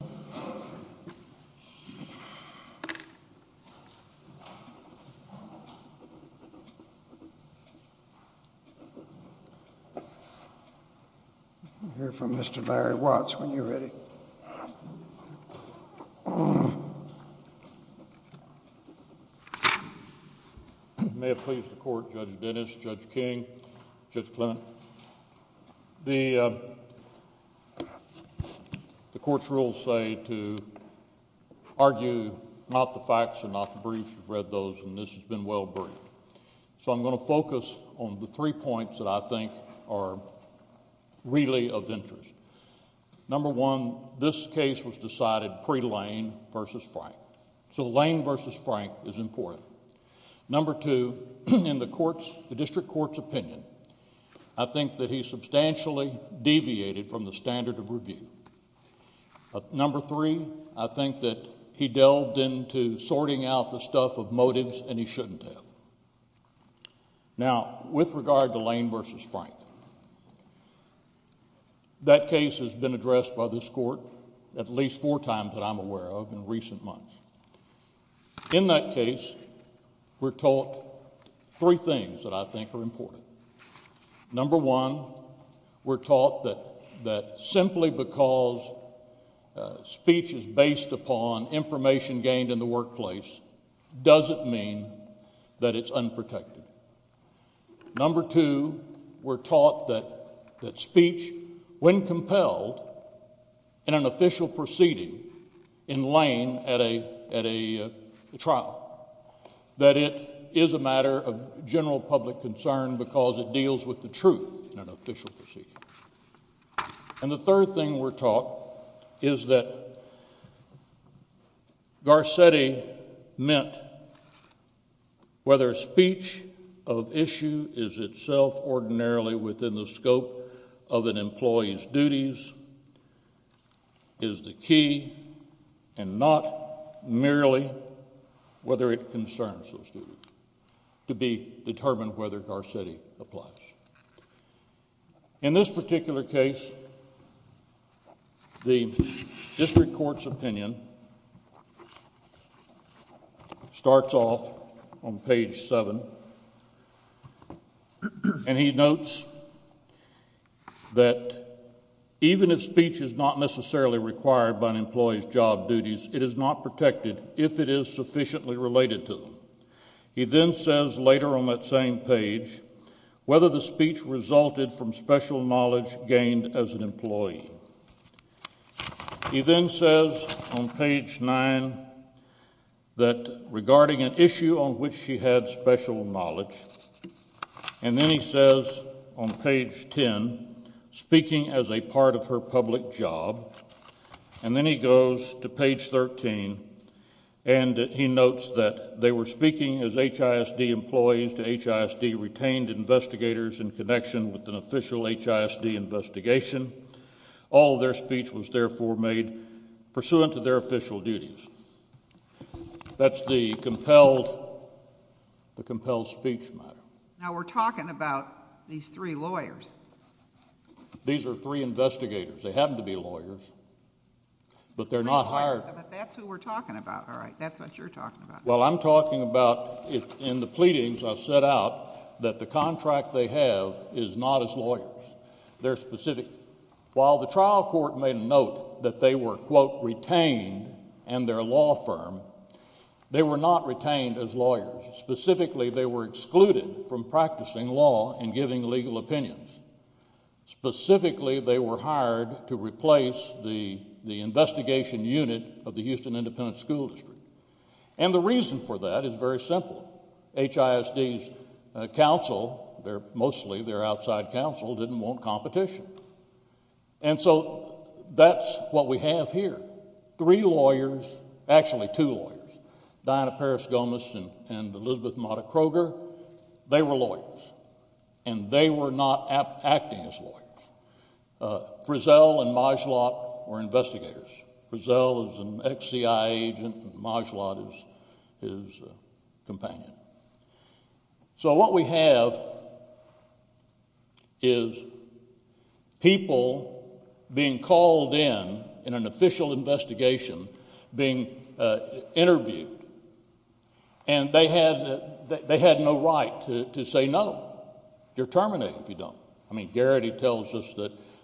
I'll hear from Mr. Larry Watts when you're ready. May it please the Court, Judge Dennis, Judge King, Judge Clement. The Court's rules say to argue not the facts and not the briefs, we've read those and this has been well briefed. So I'm going to focus on the three points that I think are really of interest. Number one, this case was decided pre-Lane v. Frank, so Lane v. Frank is important. Number two, in the District Court's opinion, I think that he substantially deviated from the standard of review. Number three, I think that he delved into sorting out the stuff of motives and he shouldn't have. Now with regard to Lane v. Frank, that case has been addressed by this Court at least four times that I'm aware of in recent months. In that case, we're taught three things that I think are important. Number one, we're taught that simply because speech is based upon information gained in the workplace doesn't mean that it's unprotected. Number two, we're taught that speech, when compelled in an official proceeding in Lane v. Frank, is not done at a trial, that it is a matter of general public concern because it deals with the truth in an official proceeding. And the third thing we're taught is that Garcetti meant whether speech of issue is itself ordinarily within the scope of an employee's duties is the key and not merely whether it concerns those duties to be determined whether Garcetti applies. In this particular case, the District Court's opinion starts off on page seven and he notes that even if speech is not necessarily required by an employee's job duties, it is not protected if it is sufficiently related to them. He then says later on that same page whether the speech resulted from special knowledge gained as an employee. He then says on page nine that regarding an issue on which she had special knowledge, and then he says on page 10, speaking as a part of her public job, and then he goes to page 13 and he notes that they were speaking as HISD employees to HISD retained investigators in connection with an official HISD investigation. All of their speech was therefore made pursuant to their official duties. That's the compelled speech matter. Now, we're talking about these three lawyers. These are three investigators. They happen to be lawyers, but they're not hired... But that's who we're talking about, all right, that's what you're talking about. Well, I'm talking about in the pleadings I set out that the contract they have is not as lawyers. They're specific. While the trial court made a note that they were, quote, retained in their law firm, they were not retained as lawyers. Specifically, they were excluded from practicing law and giving legal opinions. Specifically, they were hired to replace the investigation unit of the Houston Independent School District. And the reason for that is very simple. HISD's counsel, mostly their outside counsel, didn't want competition. And so that's what we have here. Three lawyers, actually two lawyers, Diana Paris-Gomez and Elizabeth Mata-Kroger, they were lawyers and they were not acting as lawyers. Frizzell and Majlott were investigators. Frizzell is an ex-CIA agent and Majlott is his companion. So what we have is people being called in, in an official investigation, being interviewed, and they had no right to say no. You're terminated if you don't. I mean, Garrity tells us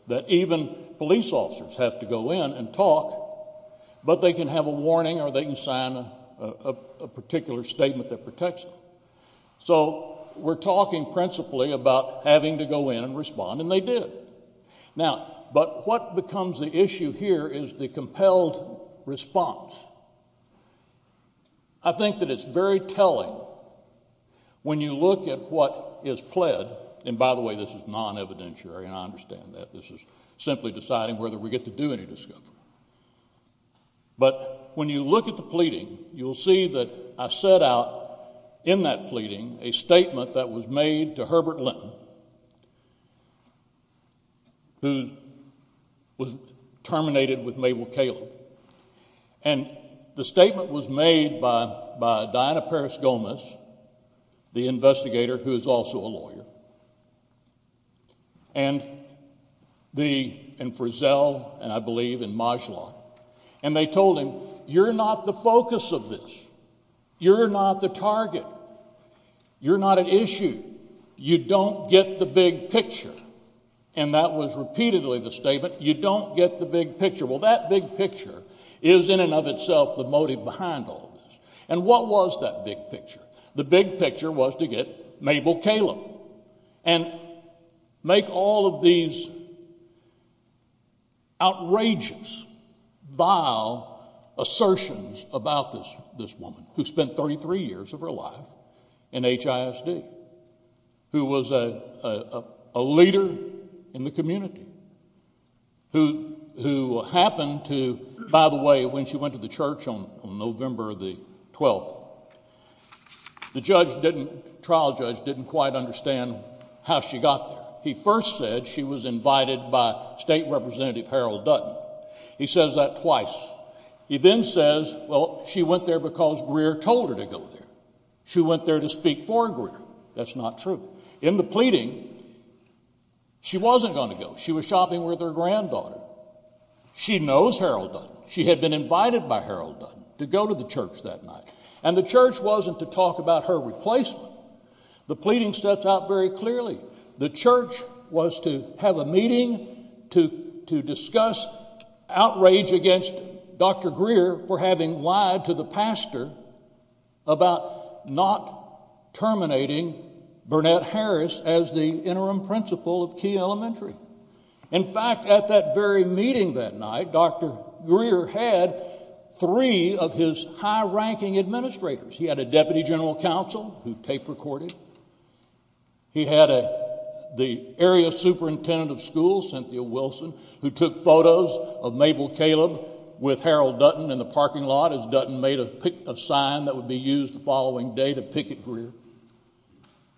that even police officers have to go in and talk, but they can have a warning or they can sign a particular statement that protects them. So we're talking principally about having to go in and respond, and they did. But what becomes the issue here is the compelled response. I think that it's very telling when you look at what is pled. And by the way, this is non-evidentiary and I understand that. This is simply deciding whether we get to do any discovery. But when you look at the pleading, you'll see that I set out in that pleading a statement that was made to Herbert Linton, who was terminated with Mabel Kaleb. And the statement was made by Diana Paris-Gomez, the investigator who is also a lawyer, and Frizzell, and I believe in Majlott. And they told him, you're not the focus of this. You're not the target. You're not an issue. You don't get the big picture. And that was repeatedly the statement, you don't get the big picture. Well, that big picture is in and of itself the motive behind all of this. And what was that big picture? The big picture was to get Mabel Kaleb and make all of these outrageous, vile assertions about this woman who spent 33 years of her life in HISD, who was a leader in the community, who happened to, by the way, when she went to the church on November the 12th, the trial judge didn't quite understand how she got there. He first said she was invited by State Representative Harold Dutton. He says that twice. He then says, well, she went there because Greer told her to go there. She went there to speak for Greer. That's not true. In the pleading, she wasn't going to go. She was shopping with her granddaughter. She knows Harold Dutton. She had been invited by Harold Dutton to go to the church that night. And the church wasn't to talk about her replacement. The pleading sets out very clearly. The church was to have a meeting to discuss outrage against Dr. Greer for having lied to the pastor about not terminating Burnett Harris as the interim principal of Key Elementary. In fact, at that very meeting that night, Dr. Greer had three of his high-ranking administrators. He had a deputy general counsel who tape recorded. He had the area superintendent of schools, Cynthia Wilson, who took photos of Mabel Caleb with Harold Dutton in the parking lot as Dutton made a sign that would be used the following day to picket Greer.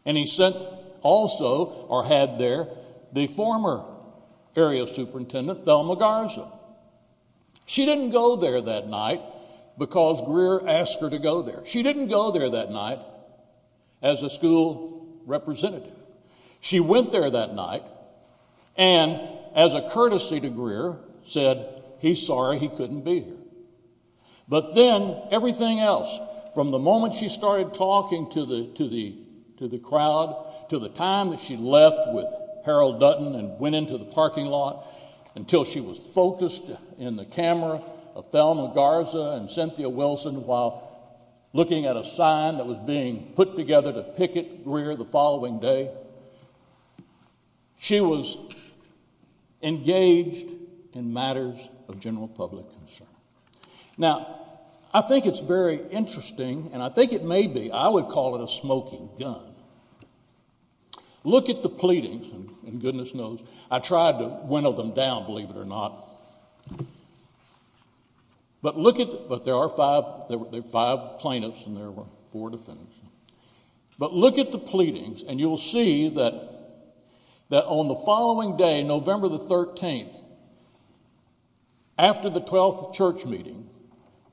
And he sent also, or had there, the former area superintendent, Thelma Garza. She didn't go there that night because Greer asked her to go there. She didn't go there that night as a school representative. She went there that night and, as a courtesy to Greer, said he's sorry he couldn't be here. But then everything else, from the moment she started talking to the crowd to the time that she left with Harold Dutton and went into the parking lot until she was focused in the camera of Thelma Garza and Cynthia Wilson while looking at a sign that was being put together to picket Greer the following day, she was engaged in matters of general public concern. Now I think it's very interesting, and I think it may be, I would call it a smoking gun. Look at the pleadings, and goodness knows I tried to whittle them down, believe it or not. But look at, but there are five, there were five plaintiffs and there were four defendants. But look at the pleadings and you'll see that on the following day, November the 13th, after the 12th church meeting,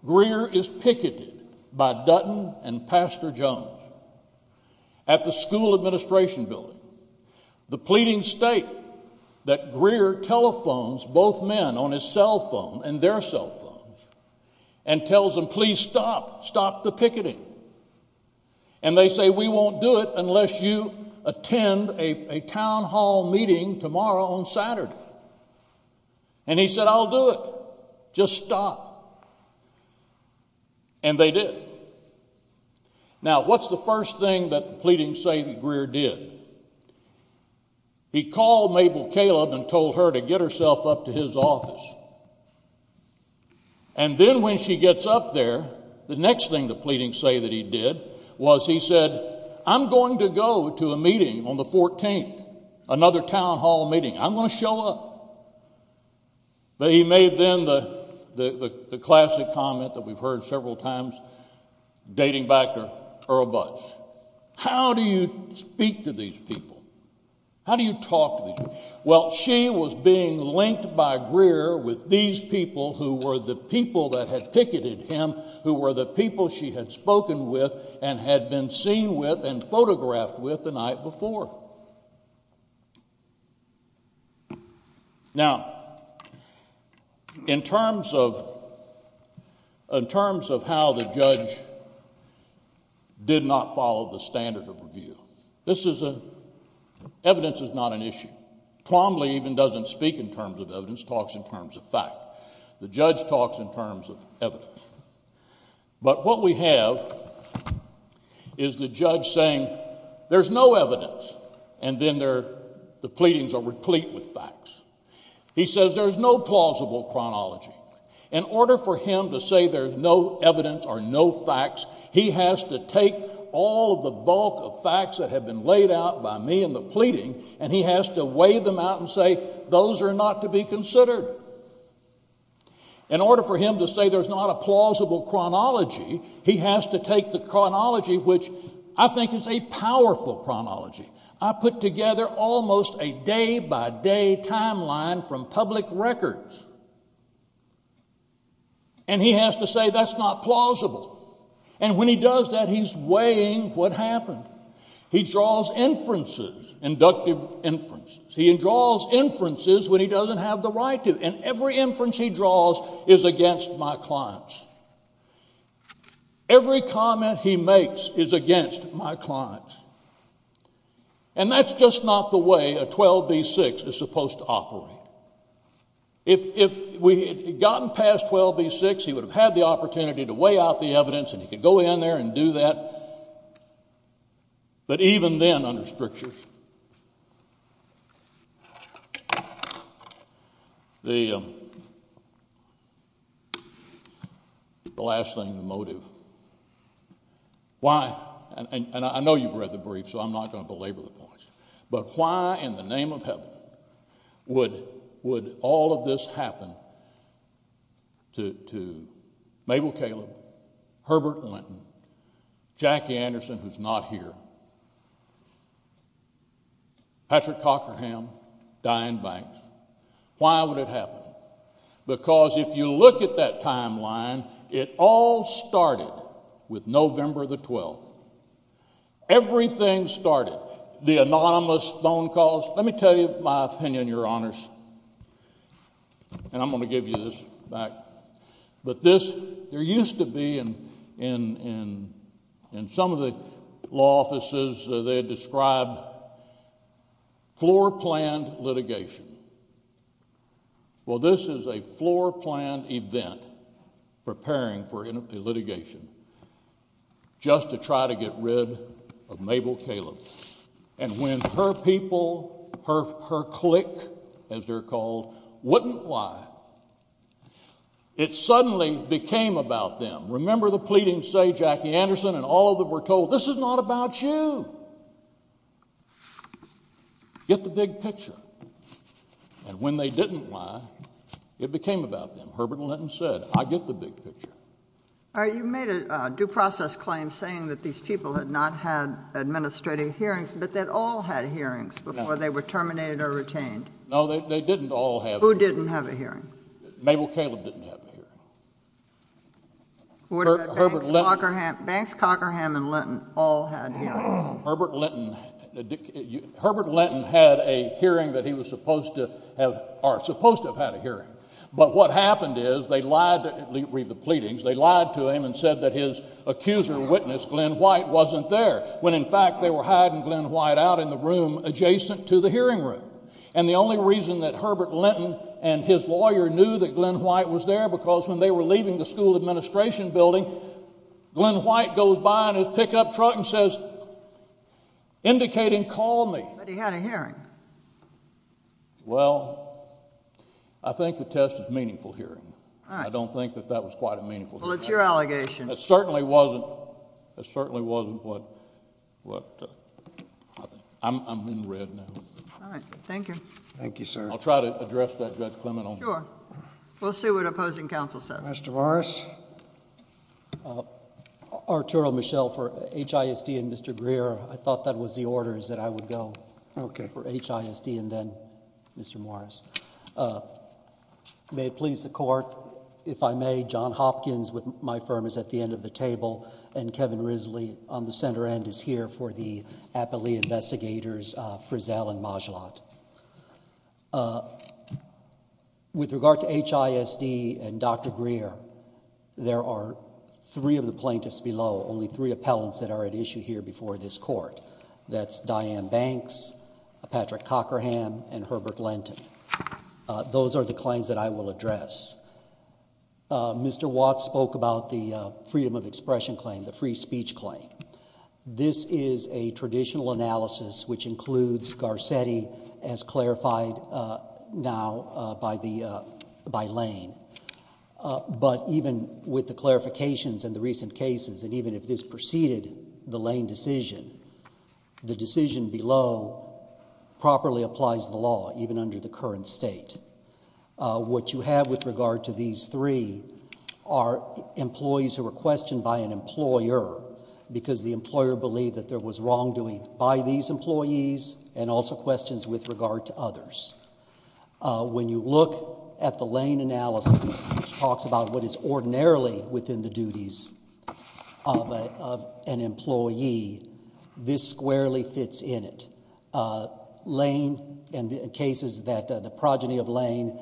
Greer is picketed by Dutton and Pastor Jones at the school administration building. The pleadings state that Greer telephones both men on his cell phone and their cell phones and tells them, please stop, stop the picketing. And they say, we won't do it unless you attend a town hall meeting tomorrow on Saturday. And he said, I'll do it, just stop. And they did. Now, what's the first thing that the pleadings say that Greer did? He called Mabel Caleb and told her to get herself up to his office. And then when she gets up there, the next thing the pleadings say that he did was he said I'm going to go to a meeting on the 14th, another town hall meeting, I'm going to show up. But he made then the classic comment that we've heard several times, dating back to Earl Butz, how do you speak to these people? How do you talk to these people? Well she was being linked by Greer with these people who were the people that had picketed him, who were the people she had spoken with and had been seen with and photographed with the night before. Now, in terms of how the judge did not follow the standard of review, this is a, evidence is not an issue. Quamley even doesn't speak in terms of evidence, talks in terms of fact. The judge talks in terms of evidence. But what we have is the judge saying there's no evidence, and then the pleadings are replete with facts. He says there's no plausible chronology. In order for him to say there's no evidence or no facts, he has to take all of the bulk of facts that have been laid out by me in the pleading and he has to weigh them out and say those are not to be considered. In order for him to say there's not a plausible chronology, he has to take the chronology which I think is a powerful chronology. I put together almost a day by day timeline from public records and he has to say that's not plausible. And when he does that, he's weighing what happened. He draws inferences, inductive inferences. He draws inferences when he doesn't have the right to. And every inference he draws is against my clients. Every comment he makes is against my clients. And that's just not the way a 12b-6 is supposed to operate. If we had gotten past 12b-6, he would have had the opportunity to weigh out the evidence and he could go in there and do that. But even then under strictures, the last thing, the motive, why, and I know you've read the brief so I'm not going to belabor the points, but why in the name of heaven would all of this happen to Mabel Caleb, Herbert Linton, Jackie Anderson who's not here, Patrick Cockerham, Diane Banks, why would it happen? Because if you look at that timeline, it all started with November the 12th. Everything started. The anonymous phone calls. Let me tell you my opinion, Your Honors, and I'm going to give you this back. But this, there used to be in some of the law offices, they described floor-planned litigation. Well, this is a floor-planned event preparing for a litigation just to try to get rid of Mabel Caleb. And when her people, her clique as they're called, wouldn't lie, it suddenly became about them. Remember the pleadings say Jackie Anderson and all of them were told, this is not about you. Get the big picture. And when they didn't lie, it became about them. Herbert Linton said, I get the big picture. All right, you made a due process claim saying that these people had not had administrative hearings, but that all had hearings before they were terminated or retained. No, they didn't all have hearings. Who didn't have a hearing? Mabel Caleb didn't have a hearing. What about Banks, Cockerham, and Linton all had hearings? Herbert Linton had a hearing that he was supposed to have, or supposed to have had a hearing. But what happened is they lied, read the pleadings, they lied to him and said that his accuser witness, Glenn White, wasn't there when in fact they were hiding Glenn White out in the room adjacent to the hearing room. And the only reason that Herbert Linton and his lawyer knew that Glenn White was there was because when they were leaving the school administration building, Glenn White goes by in his pickup truck and says, indicating, call me. But he had a hearing. Well, I think the test is meaningful hearing. I don't think that that was quite a meaningful hearing. Well, it's your allegation. It certainly wasn't. It certainly wasn't what I think. I'm in red now. All right, thank you. Thank you, sir. I'll try to address that, Judge Clement. Sure. We'll see what opposing counsel says. Mr. Morris? Arturo, Michelle, for HISD and Mr. Greer, I thought that was the orders that I would go. Okay. For HISD and then Mr. Morris. May it please the Court, if I may, John Hopkins with my firm is at the end of the table and Kevin Risley on the center end is here for the Appalachia Investigators, Frizzell and Majlott. With regard to HISD and Dr. Greer, there are three of the plaintiffs below, only three appellants that are at issue here before this court. That's Diane Banks, Patrick Cockerham and Herbert Lenton. Those are the claims that I will address. Mr. Watts spoke about the freedom of expression claim, the free speech claim. This is a traditional analysis which includes Garcetti as clarified now by Lane. But even with the clarifications in the recent cases and even if this preceded the Lane decision, the decision below properly applies the law even under the current state. What you have with regard to these three are employees who were questioned by an employer because the employer believed that there was wrongdoing by these employees and also questions with regard to others. When you look at the Lane analysis which talks about what is ordinarily within the duties of an employee, this squarely fits in it. Lane and cases that the progeny of Lane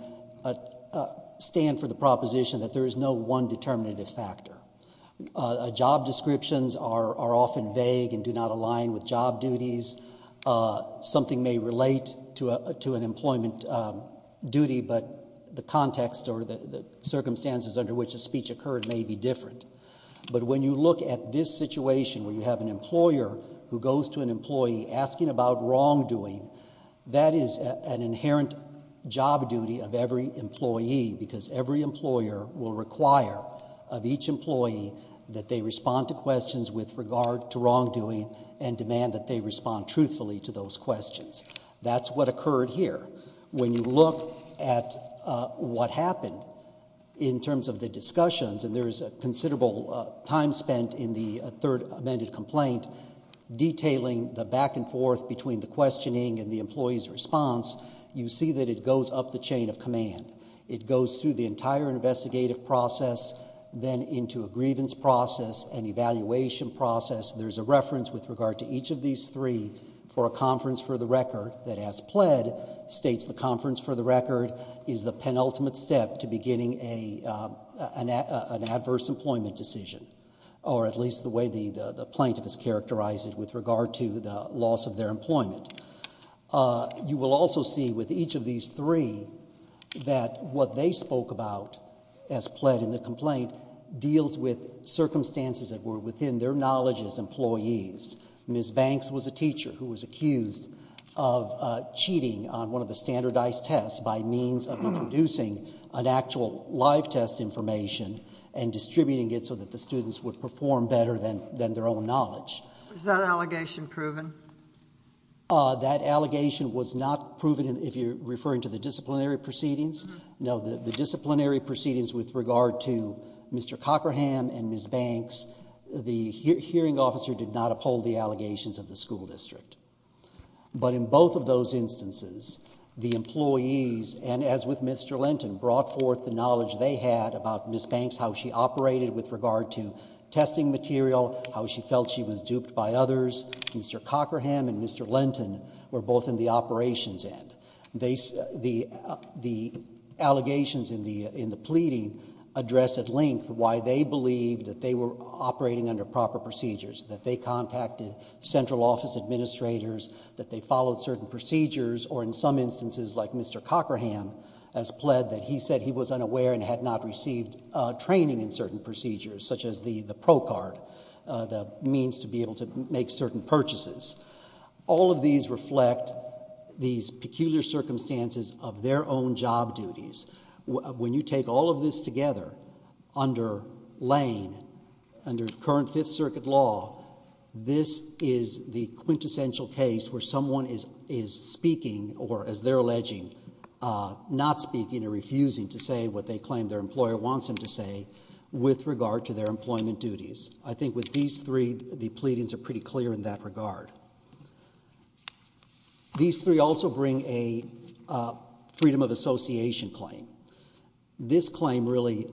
stand for the proposition that there is no one determinative factor. Job descriptions are often vague and do not align with job duties. Something may relate to an employment duty, but the context or the circumstances under which the speech occurred may be different. But when you look at this situation where you have an employer who goes to an employee asking about wrongdoing, that is an inherent job duty of every employee because every employer will require of each employee that they respond to questions with regard to wrongdoing and demand that they respond truthfully to those questions. That's what occurred here. When you look at what happened in terms of the discussions and there is considerable time spent in the third amended complaint detailing the back and forth between the questioning and the employee's response, you see that it goes up the chain of command. It goes through the entire investigative process, then into a grievance process and evaluation process. There's a reference with regard to each of these three for a conference for the record that, as pled, states the conference for the record is the penultimate step to beginning an adverse employment decision, or at least the way the plaintiff has characterized it with regard to the loss of their employment. You will also see with each of these three that what they spoke about, as pled in the complaint, deals with circumstances that were within their knowledge as employees. Ms. Banks was a teacher who was accused of cheating on one of the standardized tests by means of introducing an actual live test information and distributing it so that the students would perform better than their own knowledge. Was that allegation proven? That allegation was not proven if you're referring to the disciplinary proceedings. No, the disciplinary proceedings with regard to Mr. Cochran and Ms. Banks, the hearing officer did not uphold the allegations of the school district. But in both of those instances, the employees, and as with Mr. Lenton, brought forth the knowledge they had about Ms. Banks, how she operated with regard to testing material, how she felt she was duped by others. Mr. Cochran and Mr. Lenton were both in the operations end. The allegations in the pleading address at length why they believe that they were operating under proper procedures, that they contacted central office administrators, that they followed certain procedures, or in some instances, like Mr. Cochran has pled that he said he was unaware and had not received training in certain procedures, such as the ProCard, the means to be able to make certain purchases. All of these reflect these peculiar circumstances of their own job duties. When you take all of this together under Lane, under current Fifth Circuit law, this is the quintessential case where someone is speaking, or as they're alleging, not speaking or refusing to say what they claim their employer wants them to say with regard to their employment duties. I think with these three, the pleadings are pretty clear in that regard. These three also bring a freedom of association claim. This claim really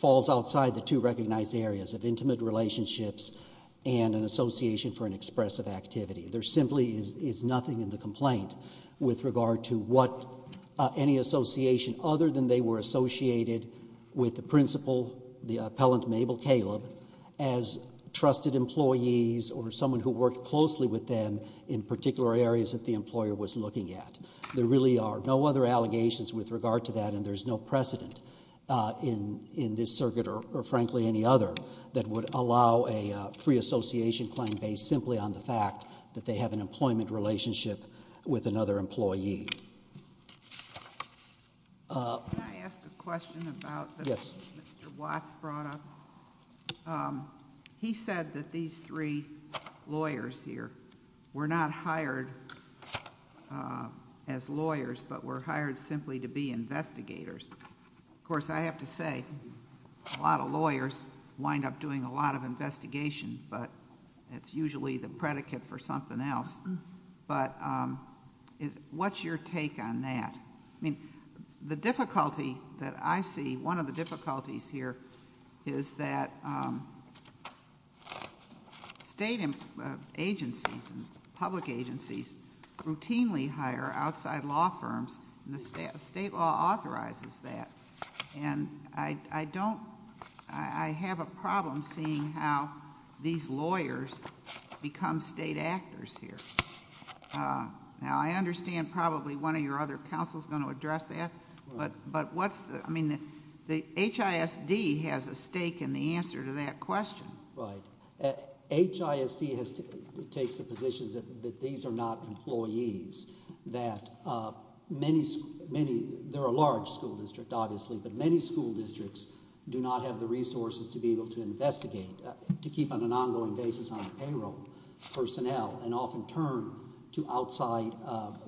falls outside the two recognized areas of intimate relationships and an association for an expressive activity. There simply is nothing in the complaint with regard to any association other than they were associated with the principal, the appellant Mabel Caleb, as trusted employees or someone who worked closely with them in particular areas that the employer was looking at. There really are no other allegations with regard to that and there's no precedent in this circuit or, frankly, any other that would allow a free association claim based simply on the fact that they have an employment relationship with another employee. Can I ask a question about...... that Mr. Watts brought up? He said that these three lawyers here were not hired as lawyers but were hired simply to be investigators. Of course, I have to say a lot of lawyers wind up doing a lot of investigation but it's usually the predicate for something else. What's your take on that? The difficulty that I see, one of the difficulties here, is that state agencies and public agencies routinely hire outside law firms and the state law authorizes that. I have a problem seeing how these lawyers become state actors here. I understand probably one of your other counsels is going to address that but HISD has a stake in the answer to that question. Right. HISD takes the position that these are not employees. There are large school districts, obviously, but many school districts do not have the resources to be able to investigate to keep on an ongoing basis on payroll personnel and often turn to outside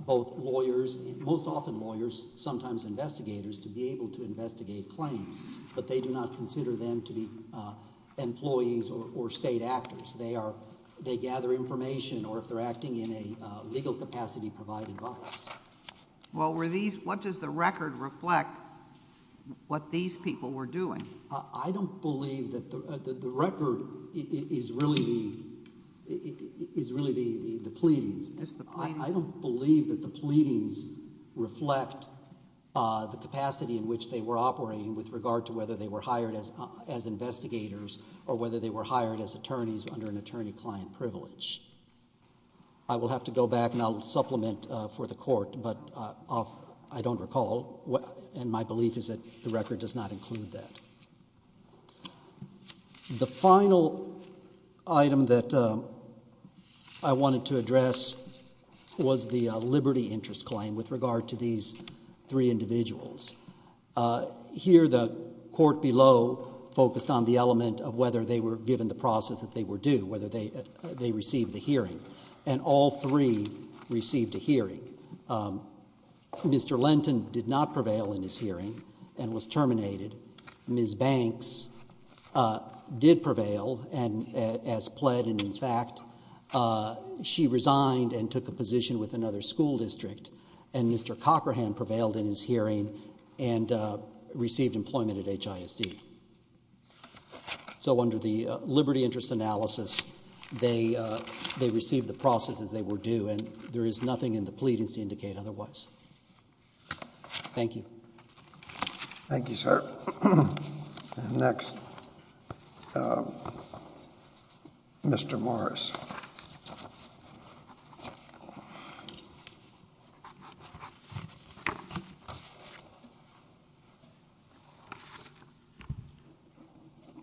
lawyers, most often lawyers, sometimes investigators, to be able to investigate claims but they do not consider them to be employees or state actors. They gather information or if they're acting in a legal capacity, provide advice. What does the record reflect what these people were doing? I don't believe that the record is really the pleadings. I don't believe that the pleadings reflect the capacity in which they were operating with regard to whether they were hired as investigators or whether they were hired as attorneys under an attorney-client privilege. I will have to go back and I'll supplement for the court but I don't recall and my belief is that the record does not include that. The final item that I wanted to address was the liberty interest claim with regard to these three individuals. Here, the court below focused on the element of whether they were given the process that they were due, whether they received the hearing and all three received a hearing. Mr. Lenton did not prevail in his hearing and was terminated. Ms. Banks did prevail and as pled and in fact, she resigned and took a position with another school district and Mr. Cochran prevailed in his hearing and received employment at HISD. So under the liberty interest analysis, they received the process as they were due and there is nothing in the pleadings to indicate otherwise. Thank you. Thank you, sir. Next, Mr. Morris.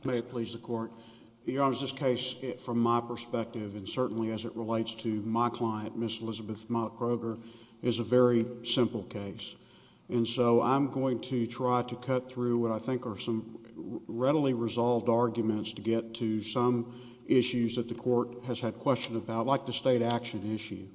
May it please the court. Your Honor, this case from my perspective and certainly as it relates to my client, Ms. Elizabeth Mott Kroger is a very simple case and so I'm going to try to cut through what I think are some readily resolved arguments to get to some issues that the court has had questions about like the state action issue.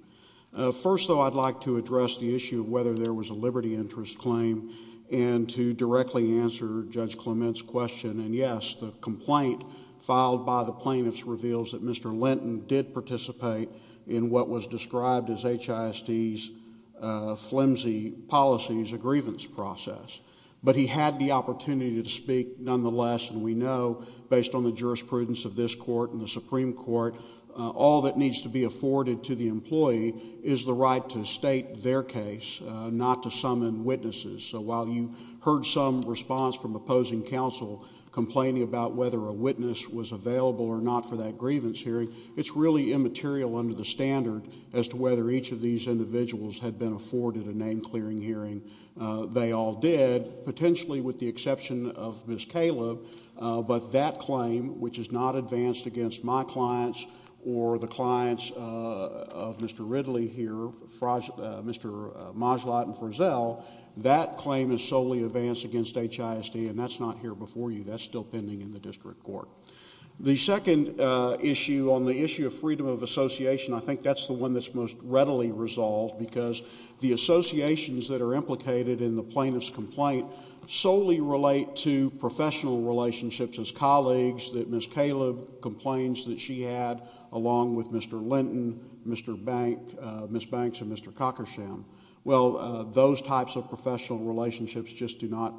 First, though, I'd like to address the issue of whether there was a liberty interest claim and to directly answer Judge Clement's question and yes, the complaint filed by the plaintiffs reveals that Mr. Lenton did participate in what was described as HISD's flimsy policies, a grievance process, but he had the opportunity to speak nonetheless and we know based on the jurisprudence of this court and the Supreme Court, all that needs to be afforded to the employee is the right to state their case, not to summon witnesses. So while you heard some response from opposing counsel complaining about whether a witness was available or not for that grievance hearing, it's really immaterial under the standard as to whether each of these individuals had been afforded a name-clearing hearing. They all did, potentially with the exception of Ms. Caleb, but that claim, which is not advanced against my clients, or the clients of Mr. Ridley here, Mr. Majlott and Frizzell, that claim is solely advanced against HISD and that's not here before you. That's still pending in the district court. The second issue on the issue of freedom of association, I think that's the one that's most readily resolved because the associations that are implicated in the plaintiff's complaint solely relate to professional relationships as colleagues, the case that Ms. Caleb complains that she had along with Mr. Linton, Ms. Banks and Mr. Cockersham. Well, those types of professional relationships just do not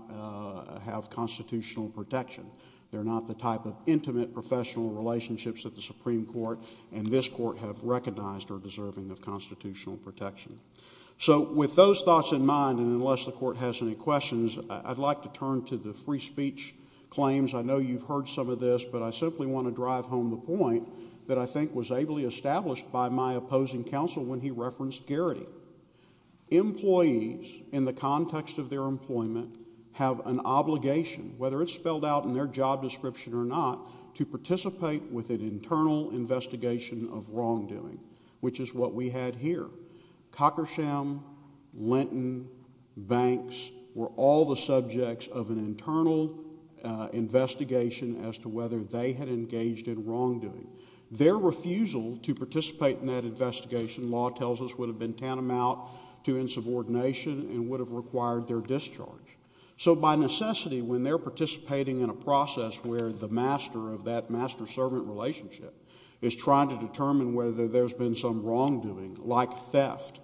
have constitutional protection. They're not the type of intimate professional relationships that the Supreme Court and this court have recognized are deserving of constitutional protection. So with those thoughts in mind, and unless the court has any questions, I'd like to turn to the free speech claims. I know you've heard some of this, but I simply want to drive home the point that I think was ably established by my opposing counsel when he referenced Garrity. Employees, in the context of their employment, have an obligation, whether it's spelled out in their job description or not, to participate with an internal investigation of wrongdoing, which is what we had here. Cockersham, Linton, Banks were all the subjects of an internal investigation as to whether they had engaged in wrongdoing. Their refusal to participate in that investigation, law tells us, would have been tantamount to insubordination and would have required their discharge. So by necessity, when they're participating in a process where the master of that master-servant relationship is trying to determine whether there's been some wrongdoing, like theft,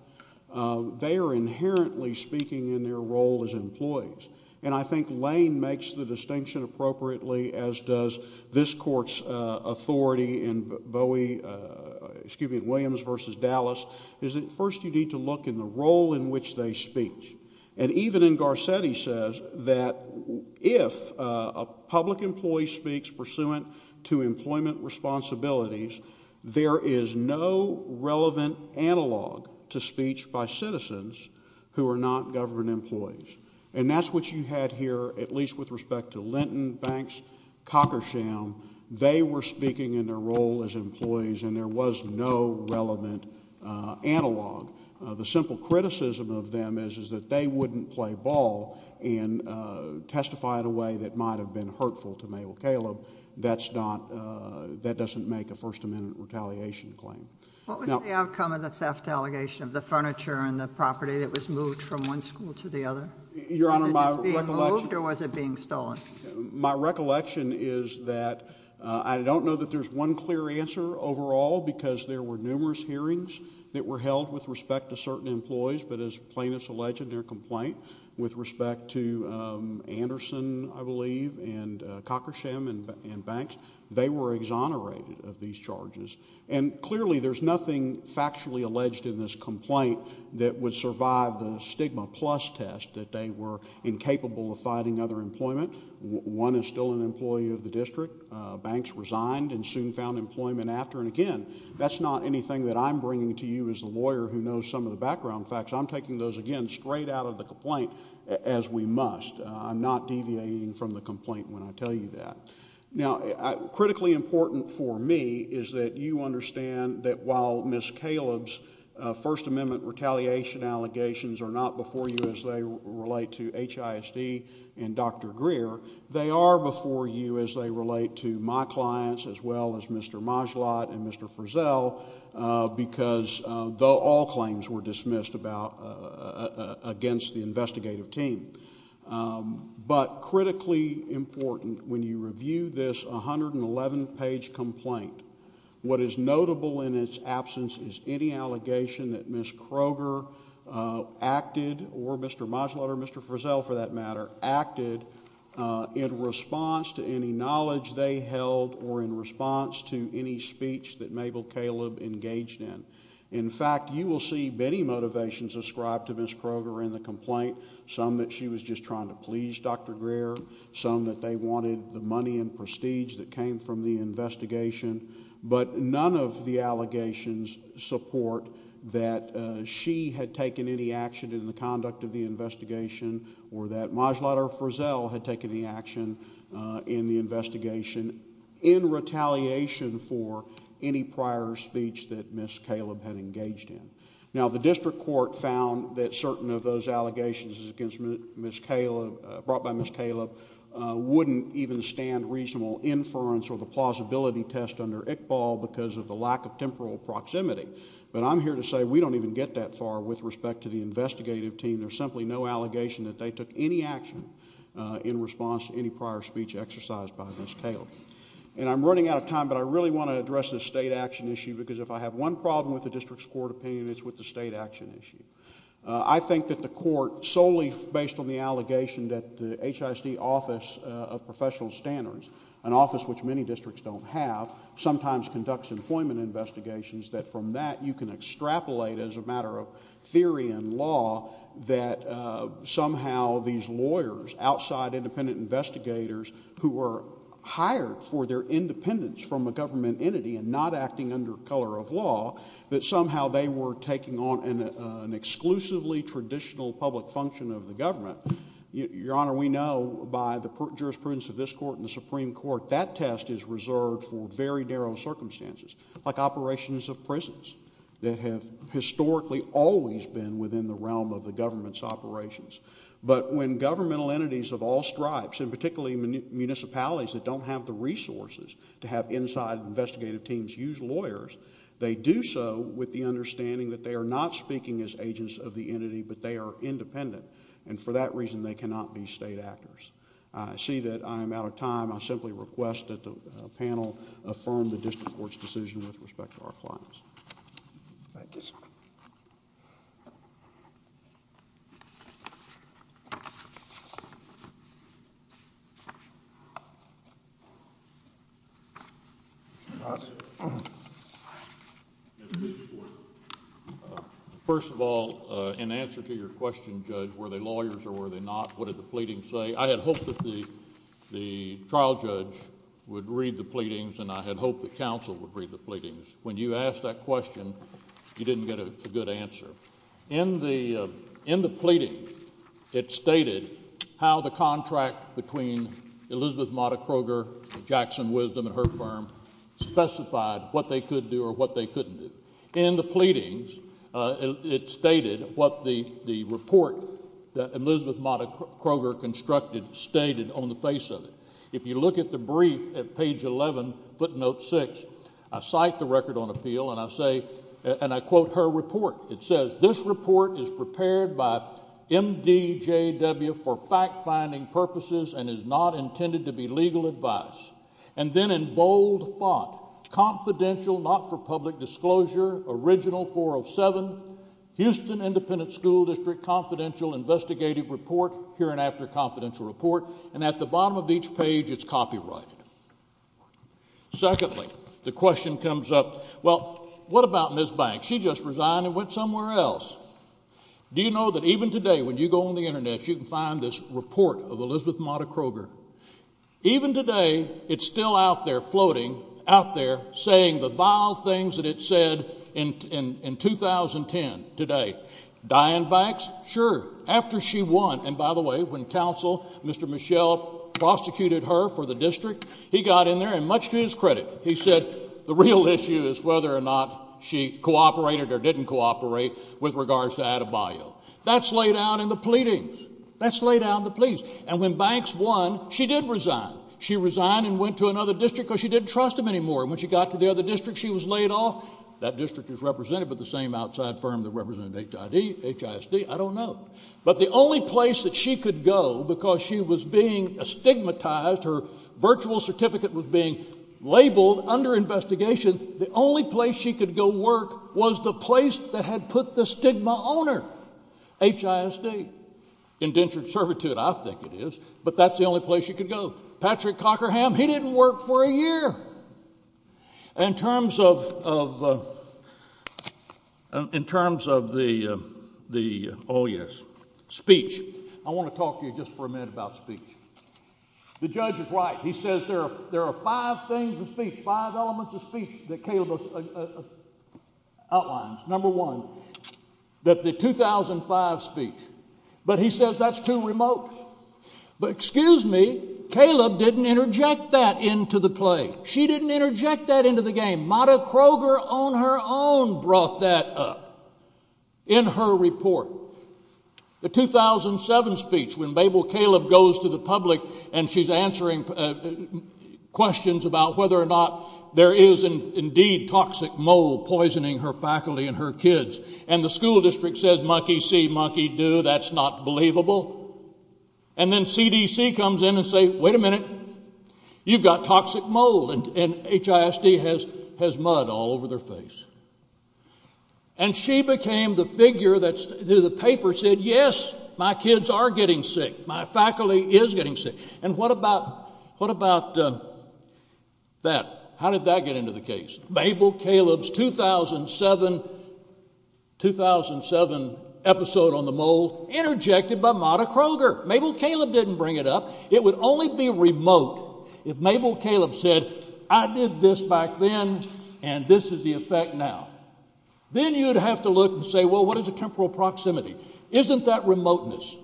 they are inherently speaking in their role as employees. And I think Lane makes the distinction appropriately, as does this Court's authority in Williams v. Dallas, is that first you need to look in the role in which they speak. And even in Garcetti says that if a public employee speaks pursuant to employment responsibilities, there is no relevant analog to speech by citizens who are not government employees. And that's what you had here, at least with respect to Linton, Banks, Cockersham. They were speaking in their role as employees, and there was no relevant analog. The simple criticism of them is that they wouldn't play ball and testify in a way that might have been hurtful to Mabel Caleb. That doesn't make a First Amendment retaliation claim. What was the outcome of the theft allegation of the furniture and the property that was moved from one school to the other? Your Honor, my recollection... Was it just being moved or was it being stolen? My recollection is that I don't know that there's one clear answer overall, because there were numerous hearings that were held with respect to certain employees, but as plaintiffs allege in their complaint, with respect to Anderson, I believe, and Cockersham and Banks, they were exonerated of these charges. And clearly there's nothing factually alleged in this complaint that would survive the stigma-plus test that they were incapable of fighting other employment. One is still an employee of the district. Banks resigned and soon found employment after. And again, that's not anything that I'm bringing to you as a lawyer who knows some of the background facts. I'm taking those, again, straight out of the complaint, as we must. I'm not deviating from the complaint when I tell you that. Now, critically important for me is that you understand that while Ms. Caleb's First Amendment retaliation allegations are not before you as they relate to HISD and Dr. Greer, they are before you as they relate to my clients as well as Mr. Majlott and Mr. Frizzell, because all claims were dismissed against the investigative team. But critically important, when you review this 111-page complaint, what is notable in its absence is any allegation that Ms. Kroger acted, or Mr. Majlott or Mr. Frizzell, for that matter, acted in response to any knowledge they held or in response to any speech that Mabel Caleb engaged in. In fact, you will see many motivations ascribed to Ms. Kroger in the complaint, some that she was just trying to please Dr. Greer, some that they wanted the money and prestige that came from the investigation, but none of the allegations support that she had taken any action in the conduct of the investigation or that Majlott or Frizzell had taken any action in the investigation in retaliation for any prior speech that Ms. Caleb had engaged in. Now, the district court found that certain of those allegations brought by Ms. Caleb wouldn't even stand reasonable inference or the plausibility test under Iqbal because of the lack of temporal proximity. But I'm here to say we don't even get that far with respect to the investigative team. There's simply no allegation that they took any action in response to any prior speech exercised by Ms. Caleb. And I'm running out of time, but I really want to address this state action issue because if I have one problem with the district's court opinion, it's with the state action issue. I think that the court, solely based on the allegation that the HISD Office of Professional Standards, an office which many districts don't have, sometimes conducts employment investigations, that from that you can extrapolate as a matter of theory and law that somehow these lawyers, outside independent investigators who were hired for their independence from a government entity and not acting under color of law, that somehow they were taking on an exclusively traditional public function of the government. Your Honor, we know by the jurisprudence of this court and the Supreme Court that test is reserved for very narrow circumstances, like operations of prisons, that have historically always been within the realm of the government's operations. But when governmental entities of all stripes, and particularly municipalities that don't have the resources to have inside investigative teams use lawyers, they do so with the understanding that they are not speaking as agents of the entity, but they are independent, and for that reason they cannot be state actors. I see that I am out of time. I simply request that the panel affirm the district court's decision with respect to our clients. Thank you, sir. Thank you. First of all, in answer to your question, Judge, were they lawyers or were they not? What did the pleading say? I had hoped that the trial judge would read the pleadings, and I had hoped that counsel would read the pleadings. When you asked that question, you didn't get a good answer. In the pleadings, it stated how the contract between Elizabeth Mata Kroger, Jackson Wisdom, and her firm specified what they could do or what they couldn't do. In the pleadings, it stated what the report that Elizabeth Mata Kroger constructed stated on the face of it. If you look at the brief at page 11, footnote 6, I cite the record on appeal, and I quote her report. It says, This report is prepared by M.D.J.W. for fact-finding purposes and is not intended to be legal advice. And then in bold thought, confidential, not for public disclosure, original 407, Houston Independent School District confidential investigative report, hereinafter confidential report. And at the bottom of each page, it's copyrighted. Secondly, the question comes up, well, what about Ms. Banks? She just resigned and went somewhere else. Do you know that even today, when you go on the Internet, you can find this report of Elizabeth Mata Kroger? Even today, it's still out there, floating out there, saying the vile things that it said in 2010 today. Diane Banks? Sure. After she won, and by the way, when counsel, Mr. Michel, prosecuted her for the district, he got in there, and much to his credit, he said, the real issue is whether or not she cooperated or didn't cooperate with regards to Adebayo. That's laid out in the pleadings. That's laid out in the pleas. And when Banks won, she did resign. She resigned and went to another district because she didn't trust him anymore. When she got to the other district, she was laid off. That district is represented by the same outside firm that represented HID, HISD, I don't know. But the only place that she could go because she was being stigmatized, her virtual certificate was being labeled under investigation, the only place she could go work was the place that had put the stigma on her. HISD. Indentured servitude, I think it is. But that's the only place she could go. Patrick Cockerham, he didn't work for a year. In terms of... In terms of the... Speech. I want to talk to you just for a minute about speech. The judge is right. He says there are five things of speech, five elements of speech, that Caleb outlines. Number one, that the 2005 speech. But he says that's too remote. But excuse me, Caleb didn't interject that into the play. She didn't interject that into the game. Marta Kroger on her own brought that up in her report. The 2007 speech, when Mabel Caleb goes to the public and she's answering questions about whether or not there is indeed toxic mold poisoning her faculty and her kids, and the school district says, monkey see, monkey do, that's not believable. And then CDC comes in and says, wait a minute, you've got toxic mold, and HISD has mud all over their face. And she became the figure that the paper said, yes, my kids are getting sick, my faculty is getting sick. And what about that? How did that get into the case? Mabel Caleb's 2007 episode on the mold, interjected by Marta Kroger. Mabel Caleb didn't bring it up. It would only be remote if Mabel Caleb said, I did this back then and this is the effect now. Then you'd have to look and say, well, what is a temporal proximity? Isn't that remoteness?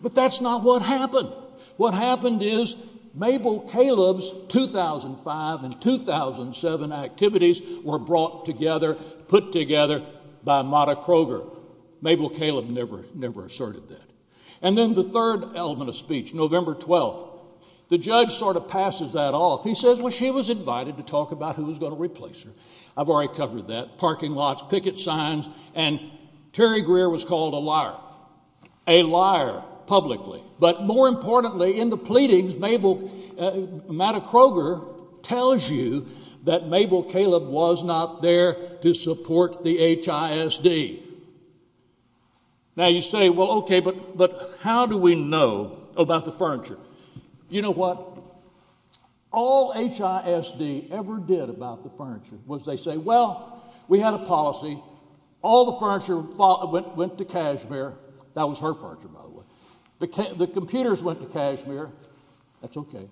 But that's not what happened. What happened is Mabel Caleb's 2005 and 2007 activities were brought together, put together by Marta Kroger. Mabel Caleb never asserted that. And then the third element of speech, November 12th, the judge sort of passes that off. He says, well, she was invited to talk about who was going to replace her. I've already covered that. Parking lots, picket signs, and Terry Greer was called a liar. A liar, publicly. But more importantly, in the pleadings Mabel, Marta Kroger tells you that Mabel Caleb was not there to support the HISD. Now you say, well, okay, but how do we know about the furniture? You know what? All HISD ever did about the furniture was they say, well, we had a policy. All the furniture went to Kashmir. That was her furniture, by the way. The computers went to Kashmir. That's okay.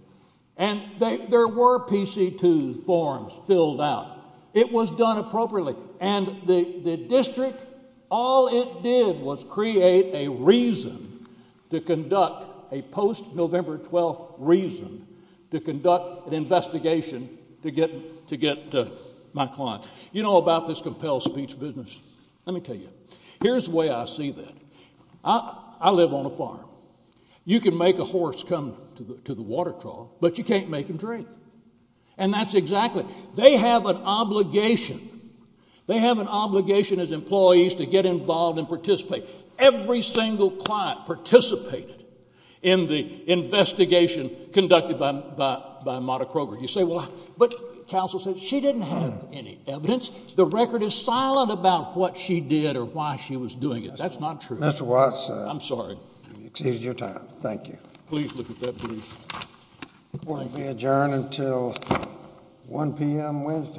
And there were PC2 forms filled out. It was done appropriately. And the district, all it did was create a reason to conduct a post-November 12th reason to conduct an investigation to get my client. You know about this compelled speech business. Let me tell you. Here's the way I see that. I live on a farm. You can make a horse come to the water trough, but you can't make him drink. And that's exactly it. They have an obligation. They have an obligation as employees to get involved and participate. Every single client participated in the investigation conducted by Mata Kroger. You say, well, but counsel said she didn't have any evidence. The record is silent about what she did or why she was doing it. That's not true. Mr. Watts, I'm sorry. Thank you. Please look at that brief. It won't be adjourned until 1 p.m. Wednesday.